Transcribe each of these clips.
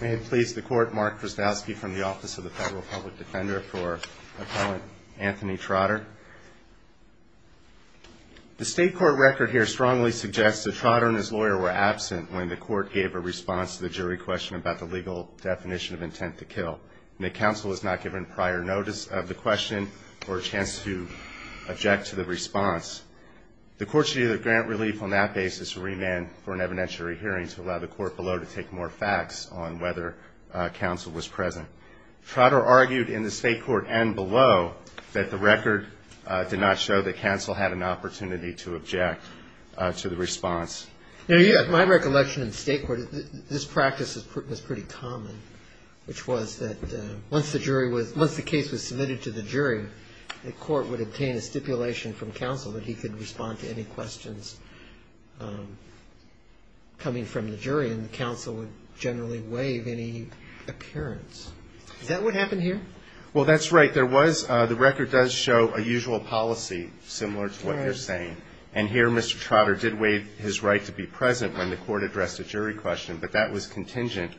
May it please the Court, Mark Krasnowski from the Office of the Federal Public Defender for Appellant Anthony Trotter. The State Court record here strongly suggests that Trotter and his lawyer were absent when the Court gave a response to the jury question about the legal definition of intent to kill, and that counsel was not given prior notice of the question or a chance to object to the response. The Court should either grant relief on that basis or remand for an evidentiary hearing to allow the Court below to take more facts on whether counsel was present. Trotter argued in the State Court and below that the record did not show that counsel had an opportunity to object to the response. Now, my recollection in the State Court, this practice was pretty common, which was that once the case was submitted to the jury, the Court would obtain a stipulation from counsel that he could respond to any questions coming from the jury, and the counsel would generally waive any appearance. Is that what happened here? Well, that's right. There was, the record does show a usual policy similar to what you're saying, and here Mr. Trotter did waive his right to be present when the Court addressed a jury question, but that was contingent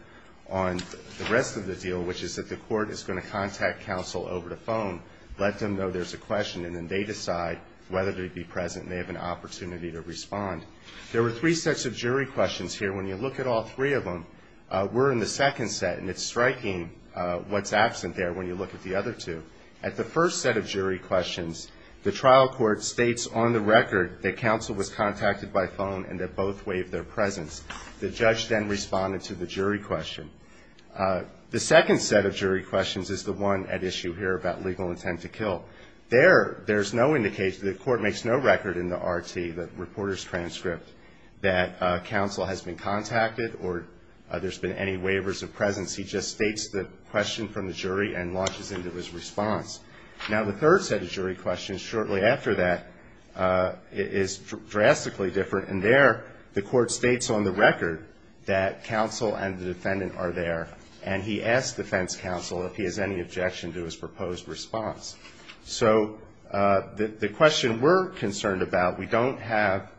on the rest of the deal, which is that the Court is going to contact counsel over the phone, let them know there's a question, and then they decide whether they'd be present and they have an opportunity to respond. There were three sets of jury questions here. And when you look at all three of them, we're in the second set, and it's striking what's absent there when you look at the other two. At the first set of jury questions, the trial court states on the record that counsel was contacted by phone and that both waived their presence. The judge then responded to the jury question. The second set of jury questions is the one at issue here about legal intent to kill. There, there's no indication, the Court makes no record in the RT, the reporter's transcript, that counsel has been contacted or there's been any waivers of presence. He just states the question from the jury and launches into his response. Now, the third set of jury questions shortly after that is drastically different, and there the Court states on the record that counsel and the defendant are there, and he asks defense counsel if he has any objection to his proposed response. So the question we're concerned about, we don't have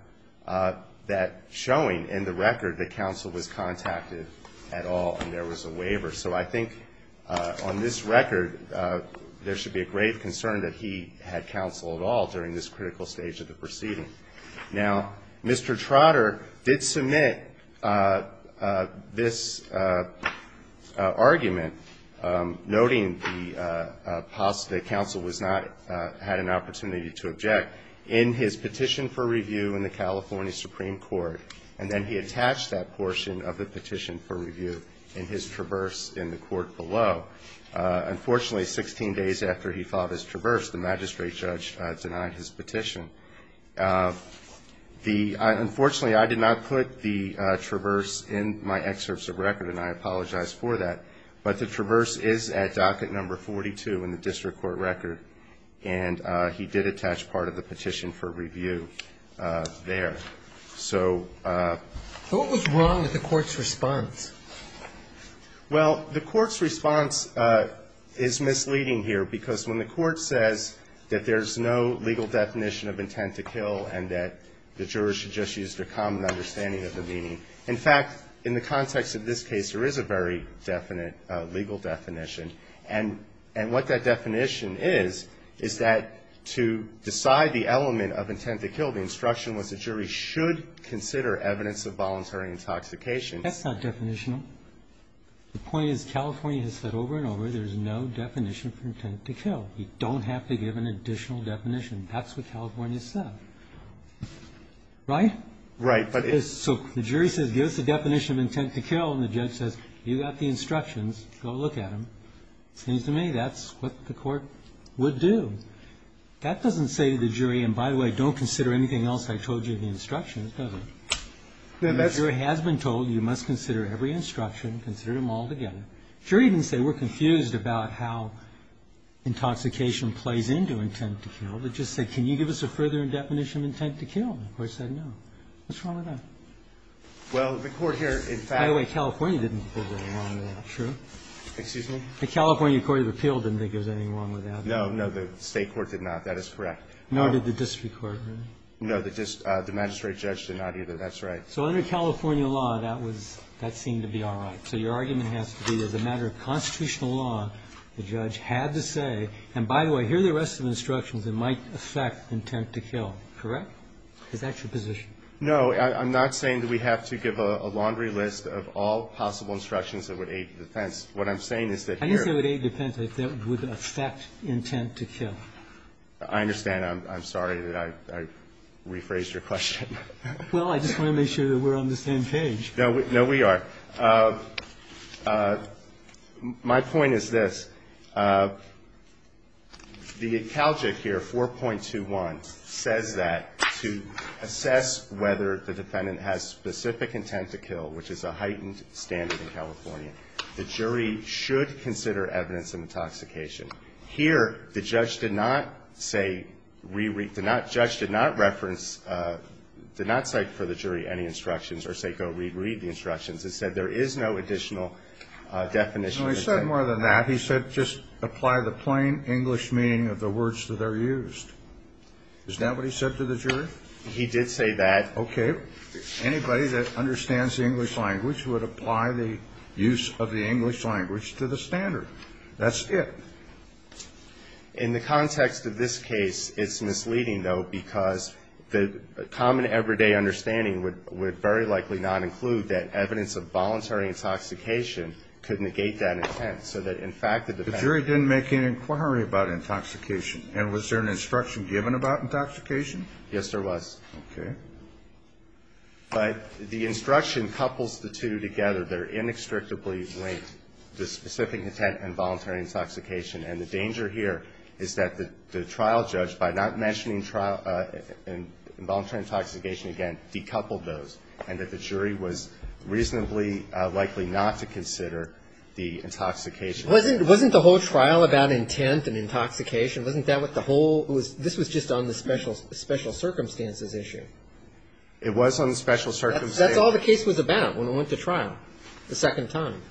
that showing in the record that counsel was contacted at all and there was a waiver. So I think on this record, there should be a grave concern that he had counsel at all during this critical stage of the proceeding. Now, Mr. Trotter did submit this argument, noting the possibility that counsel was not, had an opportunity to object, in his petition for review in the California Supreme Court, and then he attached that portion of the petition for review in his traverse in the court below. Unfortunately, 16 days after he filed his traverse, the magistrate judge denied his petition. So unfortunately, I did not put the traverse in my excerpts of record, and I apologize for that, but the traverse is at docket number 42 in the district court record, and he did attach part of the petition for review there. So what was wrong with the Court's response? Well, the Court's response is misleading here, because when the Court says that there's no legal definition of intent to kill and that the jurors should just use their common understanding of the meaning, in fact, in the context of this case, there is a very definite legal definition. And what that definition is, is that to decide the element of intent to kill, the instruction was the jury should consider evidence of voluntary intoxication. That's not definitional. The point is California has said over and over there's no definition for intent to kill. You don't have to give an additional definition. That's what California said. Right? Right. So the jury says, give us a definition of intent to kill, and the judge says, you got the instructions. Go look at them. It seems to me that's what the Court would do. That doesn't say to the jury, and by the way, don't consider anything else I told you in the instructions, does it? The jury has been told you must consider every instruction. Consider them all together. The jury didn't say we're confused about how intoxication plays into intent to kill. They just said, can you give us a further definition of intent to kill? The Court said no. What's wrong with that? Well, the Court here, in fact ---- By the way, California didn't think there was anything wrong with that. True? Excuse me? The California Court of Appeals didn't think there was anything wrong with that. No, no. The State court did not. That is correct. Nor did the district court. No, the magistrate judge did not either. That's right. So under California law, that was ---- that seemed to be all right. So your argument has to be as a matter of constitutional law, the judge had to say, and by the way, here are the rest of the instructions that might affect intent to kill. Correct? Is that your position? No. I'm not saying that we have to give a laundry list of all possible instructions that would aid defense. What I'm saying is that here ---- I didn't say it would aid defense. I said it would affect intent to kill. I understand. I'm sorry that I rephrased your question. Well, I just want to make sure that we're on the same page. No, we are. My point is this. The CALJIC here, 4.21, says that to assess whether the defendant has specific intent to kill, which is a heightened standard in California, the jury should consider evidence of intoxication. Here, the judge did not say ---- did not reference, did not cite for the jury any instructions or say go reread the instructions. It said there is no additional definition. No, he said more than that. He said just apply the plain English meaning of the words that are used. Is that what he said to the jury? He did say that. Okay. Anybody that understands the English language would apply the use of the English language to the standard. That's it. In the context of this case, it's misleading, though, because the common everyday understanding would very likely not include that evidence of voluntary intoxication could negate that intent. So that, in fact, the defendant ---- The jury didn't make any inquiry about intoxication. And was there an instruction given about intoxication? Yes, there was. Okay. But the instruction couples the two together. They're inextricably linked, the specific intent and voluntary intoxication. And the danger here is that the trial judge, by not mentioning involuntary intoxication again, decoupled those, and that the jury was reasonably likely not to consider the intoxication. Wasn't the whole trial about intent and intoxication? Wasn't that what the whole ---- this was just on the special circumstances issue. It was on the special circumstances. That's all the case was about when we went to trial the second time.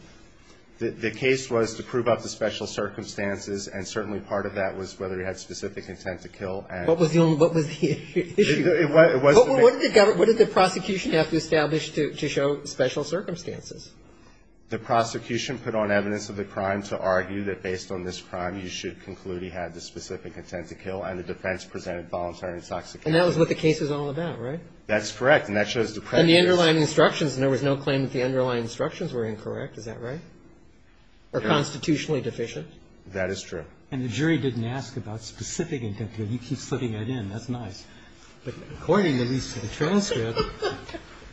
The case was to prove up the special circumstances, and certainly part of that was whether he had specific intent to kill and ---- What was the only ---- what was the issue? It was the ---- What did the prosecution have to establish to show special circumstances? The prosecution put on evidence of the crime to argue that based on this crime, you should conclude he had the specific intent to kill, and the defense presented voluntary intoxication. And that was what the case was all about, right? That's correct. And the underlying instructions, and there was no claim that the underlying instructions were incorrect. Is that right? Or constitutionally deficient? That is true. And the jury didn't ask about specific intent to kill. You keep slipping that in. That's nice. But according, at least to the transcript,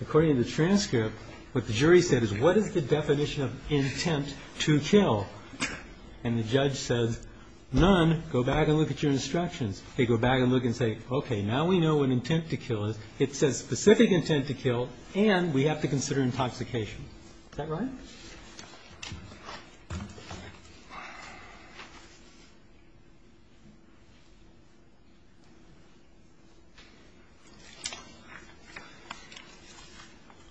according to the transcript, what the jury said is, what is the definition of intent to kill? And the judge says, none. Go back and look at your instructions. They go back and look and say, okay, now we know what intent to kill is. It says specific intent to kill, and we have to consider intoxication. Is that right?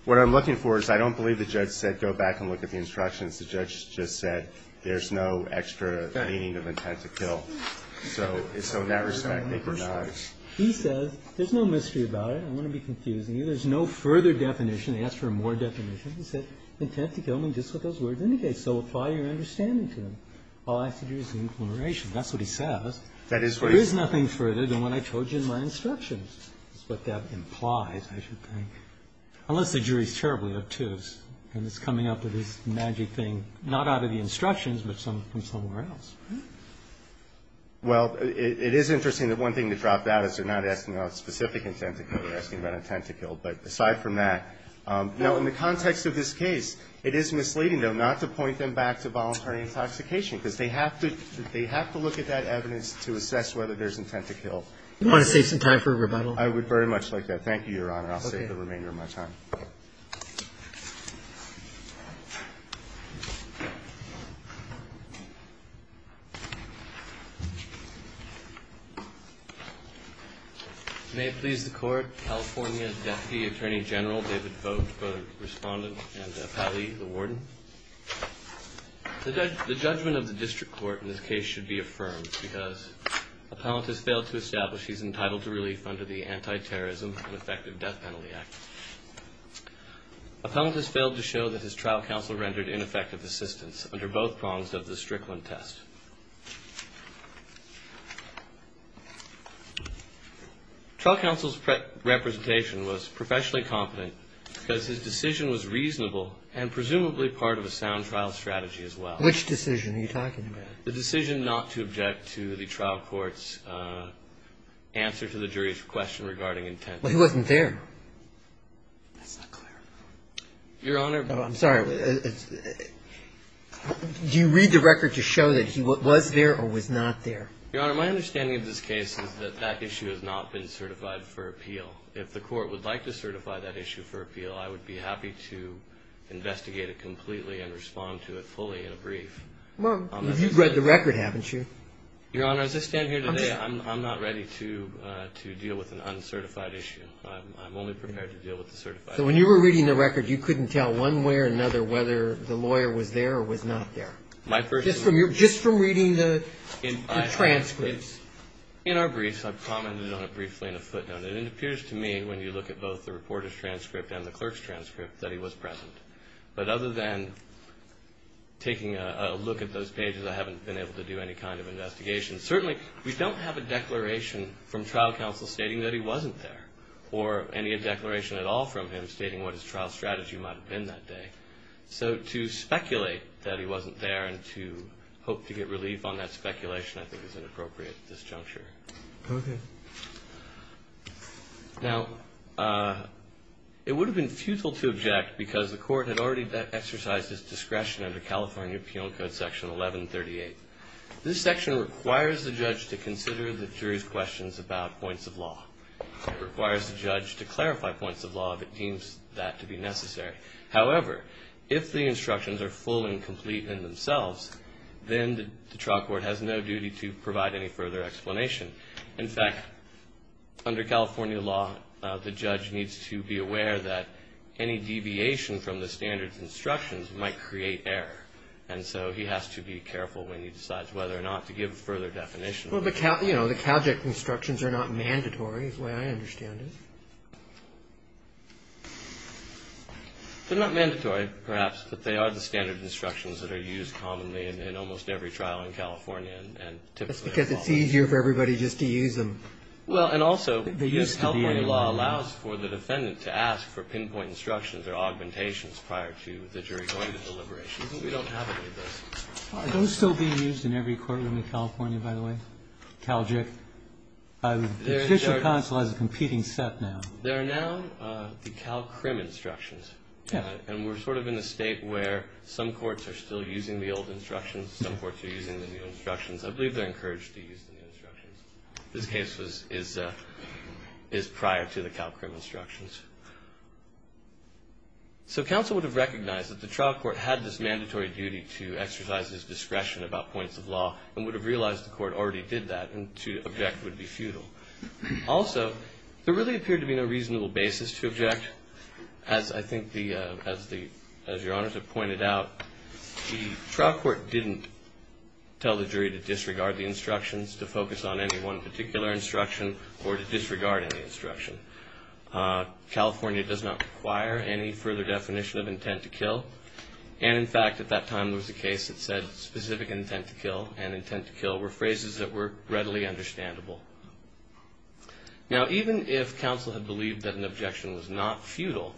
What I'm looking for is I don't believe the judge said go back and look at the instructions. The judge just said there's no extra meaning of intent to kill. So in that respect, they did not. He says there's no mystery about it. I don't want to be confusing you. There's no further definition. They asked for a more definition. He said intent to kill means just what those words indicate. So apply your understanding to them. All I have to do is the inclination. That's what he says. There is nothing further than what I told you in my instructions. That's what that implies, I should think, unless the jury is terribly obtuse and is coming up with this magic thing, not out of the instructions, but from somewhere else. Well, it is interesting that one thing to drop out is they're not asking about specific intent to kill. They're asking about intent to kill. But aside from that, now, in the context of this case, it is misleading, though, not to point them back to voluntary intoxication, because they have to look at that evidence to assess whether there's intent to kill. Do you want to save some time for rebuttal? I would very much like that. Thank you, Your Honor. I'll save the remainder of my time. Thank you. May it please the Court, California Deputy Attorney General David Vogt, Respondent, and Appellee, the Warden. The judgment of the District Court in this case should be affirmed, because Appellant has failed to establish he's entitled to relief under the Anti-Terrorism and Ineffective Death Penalty Act. Appellant has failed to show that his trial counsel rendered ineffective assistance under both prongs of the Strickland test. Trial counsel's representation was professionally competent, because his decision was reasonable and presumably part of a sound trial strategy as well. Which decision are you talking about? The decision not to object to the trial court's answer to the jury's question regarding intent. Well, he wasn't there. That's not clear. Your Honor. I'm sorry. Do you read the record to show that he was there or was not there? Your Honor, my understanding of this case is that that issue has not been certified for appeal. If the Court would like to certify that issue for appeal, I would be happy to investigate it completely and respond to it fully in a brief. Well, you've read the record, haven't you? Your Honor, as I stand here today, I'm not ready to deal with an uncertified issue. I'm only prepared to deal with the certified issue. So when you were reading the record, you couldn't tell one way or another whether the lawyer was there or was not there? Just from reading the transcripts? In our briefs, I've commented on it briefly in a footnote. It appears to me, when you look at both the reporter's transcript and the clerk's transcript, that he was present. But other than taking a look at those pages, I haven't been able to do any kind of investigation. Certainly, we don't have a declaration from trial counsel stating that he wasn't there or any declaration at all from him stating what his trial strategy might have been that day. So to speculate that he wasn't there and to hope to get relief on that speculation, I think, is inappropriate at this juncture. Okay. Now, it would have been futile to object because the court had already exercised its discretion under California Penal Code Section 1138. This section requires the judge to consider the jury's questions about points of law. It requires the judge to clarify points of law if it deems that to be necessary. However, if the instructions are full and complete in themselves, then the trial court has no duty to provide any further explanation. In fact, under California law, the judge needs to be aware that any deviation from the standard instructions might create error. And so he has to be careful when he decides whether or not to give a further definition. Well, but, you know, the CalJIT instructions are not mandatory is the way I understand it. They're not mandatory, perhaps, but they are the standard instructions that are used commonly in almost every trial in California. That's because it's easier for everybody just to use them. Well, and also California law allows for the defendant to ask for pinpoint instructions or augmentations prior to the jury going to deliberations. We don't have any of those. Are those still being used in every courtroom in California, by the way, CalJIT? The Judicial Council has a competing set now. There are now the CalCRIM instructions. And we're sort of in a state where some courts are still using the old instructions, some courts are using the new instructions. I believe they're encouraged to use the new instructions. This case is prior to the CalCRIM instructions. So counsel would have recognized that the trial court had this mandatory duty to exercise his discretion about points of law and would have realized the court already did that and to object would be futile. Also, there really appeared to be no reasonable basis to object. As I think the ‑‑ as your honors have pointed out, the trial court didn't tell the jury to disregard the instructions, to focus on any one particular instruction or to disregard any instruction. California does not require any further definition of intent to kill. And, in fact, at that time there was a case that said specific intent to kill and intent to kill were phrases that were readily understandable. Now, even if counsel had believed that an objection was not futile,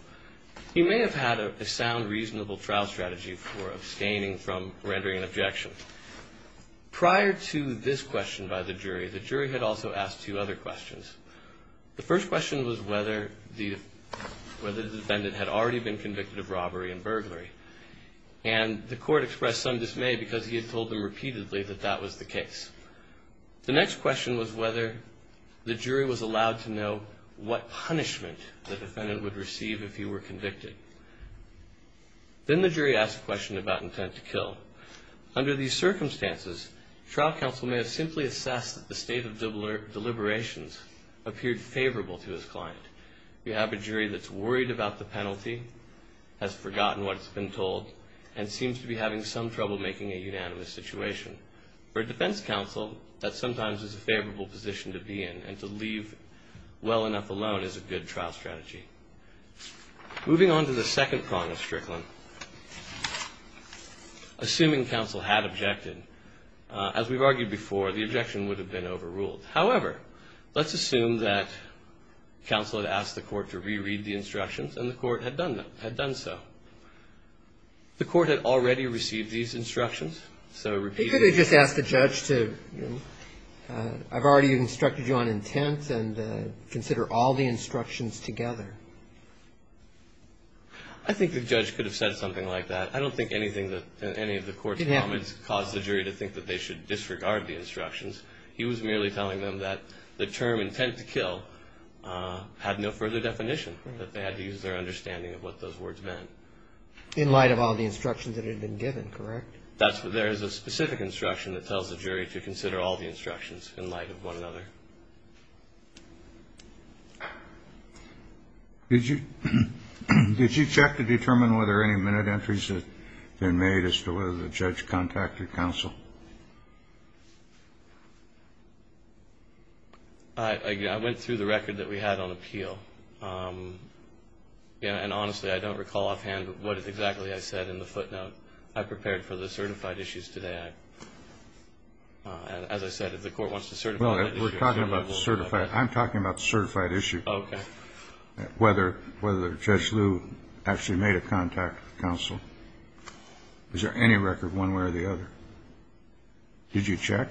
he may have had a sound reasonable trial strategy for abstaining from rendering an objection. Prior to this question by the jury, the jury had also asked two other questions. The first question was whether the defendant had already been convicted of robbery and burglary. And the court expressed some dismay because he had told them repeatedly that that was the case. The next question was whether the jury was allowed to know what punishment the defendant would receive if he were convicted. Then the jury asked a question about intent to kill. Under these circumstances, trial counsel may have simply assessed that the state of deliberations appeared favorable to his client. You have a jury that's worried about the penalty, has forgotten what's been told, and seems to be having some trouble making a unanimous situation. For a defense counsel, that sometimes is a favorable position to be in, and to leave well enough alone is a good trial strategy. Moving on to the second prong of Strickland. Assuming counsel had objected, as we've argued before, the objection would have been overruled. However, let's assume that counsel had asked the court to re-read the instructions, and the court had done so. The court had already received these instructions. You could have just asked the judge to, I've already instructed you on intent, and consider all the instructions together. I think the judge could have said something like that. I don't think any of the court's comments caused the jury to think that they should disregard the instructions. He was merely telling them that the term intent to kill had no further definition, that they had to use their understanding of what those words meant. In light of all the instructions that had been given, correct? There is a specific instruction that tells the jury to consider all the instructions in light of one another. Did you check to determine whether any minute entries had been made as to whether the judge contacted counsel? I went through the record that we had on appeal. And honestly, I don't recall offhand what exactly I said in the footnote. I prepared for the certified issues today. As I said, if the court wants to certify that issue, I'm available. I'm talking about the certified issue. Okay. Whether Judge Liu actually made a contact with counsel. Is there any record one way or the other? Did you check?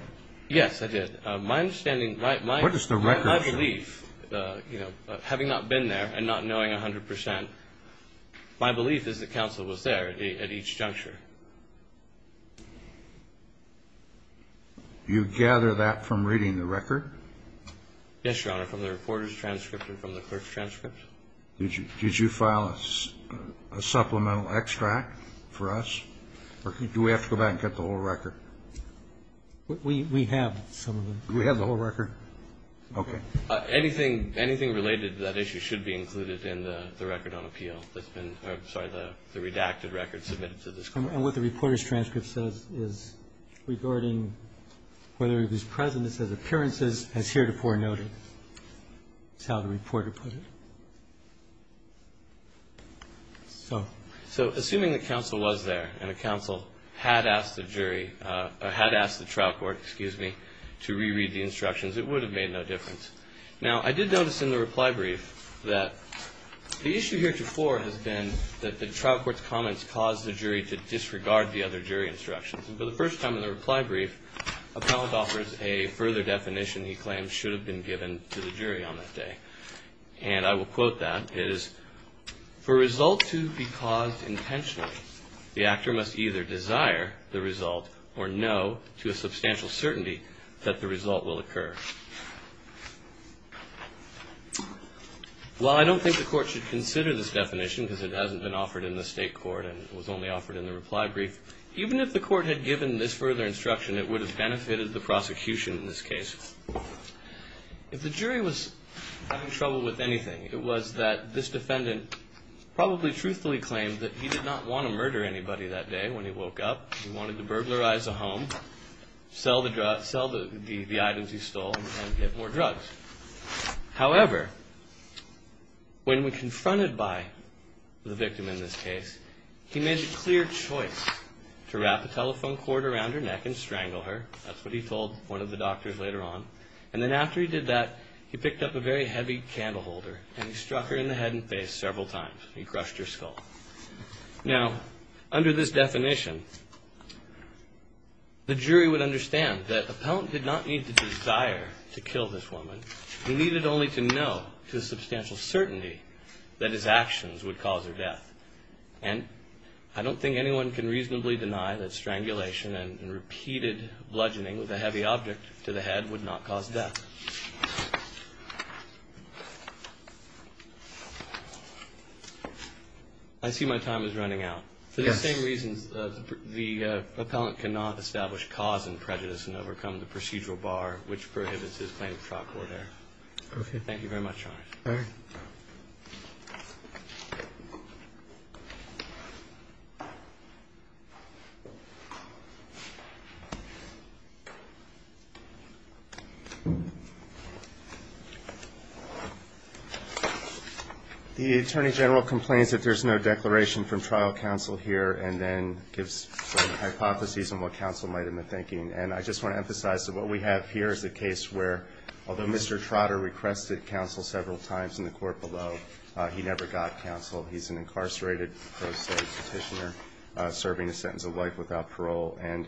Yes, I did. My understanding, my belief, you know, having not been there and not knowing 100 percent, my belief is that counsel was there at each juncture. You gather that from reading the record? Yes, Your Honor, from the reporter's transcript and from the clerk's transcript. Did you file a supplemental extract for us? Or do we have to go back and get the whole record? We have some of them. Do we have the whole record? Okay. Anything related to that issue should be included in the record on appeal that's been or, I'm sorry, the redacted record submitted to this Court. And what the reporter's transcript says is regarding whether he was present. It says appearances as heretofore noted. That's how the reporter put it. So. So assuming that counsel was there and that counsel had asked the jury or had asked the trial court, excuse me, to reread the instructions, it would have made no difference. Now, I did notice in the reply brief that the issue heretofore has been that the trial court's comments caused the jury to disregard the other jury instructions. And for the first time in the reply brief, appellant offers a further definition he claims should have been given to the jury on that day. And I will quote that. It is, for a result to be caused intentionally, the actor must either desire the result or know to a substantial certainty that the result will occur. While I don't think the court should consider this definition because it hasn't been offered in the state court and it was only offered in the reply brief, even if the court had given this further instruction, it would have benefited the prosecution in this case. If the jury was having trouble with anything, it was that this defendant probably truthfully claimed that he did not want to murder anybody that day when he woke up. He wanted to burglarize a home, sell the items he stole, and get more drugs. However, when we confronted by the victim in this case, he made the clear choice to wrap a telephone cord around her neck and strangle her. That's what he told one of the doctors later on. And then after he did that, he picked up a very heavy candle holder and he struck her in the head and face several times. He crushed her skull. Now, under this definition, the jury would understand that the appellant did not need to desire to kill this woman. He needed only to know to a substantial certainty that his actions would cause her death. And I don't think anyone can reasonably deny that strangulation and repeated bludgeoning with a heavy object to the head would not cause death. I see my time is running out. For the same reasons, the appellant cannot establish cause and prejudice and overcome the procedural bar, which prohibits his claim of trial court error. Thank you very much, Your Honor. All right. The Attorney General complains that there's no declaration from trial counsel here and then gives some hypotheses on what counsel might have been thinking. And I just want to emphasize that what we have here is a case where, although Mr. Trotter requested counsel several times in the court below, he never got counsel. He's an incarcerated pro se petitioner serving a sentence of life without parole. And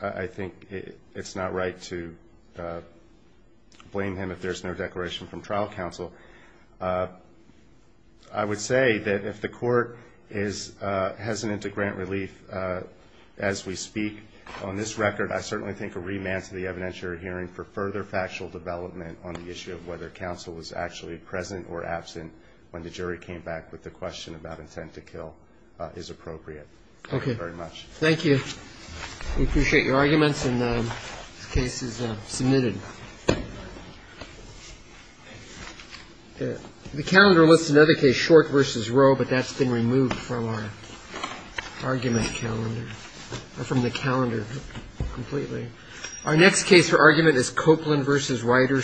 I think it's not right to blame him if there's no declaration from trial counsel. I would say that if the court is hesitant to grant relief as we speak on this record, I certainly think a remand to the evidentiary hearing for further factual development on the issue of whether counsel was actually present or absent when the jury came back with the question about intent to kill is appropriate. Okay. Thank you very much. Thank you. We appreciate your arguments. And this case is submitted. The calendar lists another case, Short v. Roe, but that's been removed from our argument calendar or from the calendar completely. Our next case for argument is Copeland v. Ryder Services Corporation.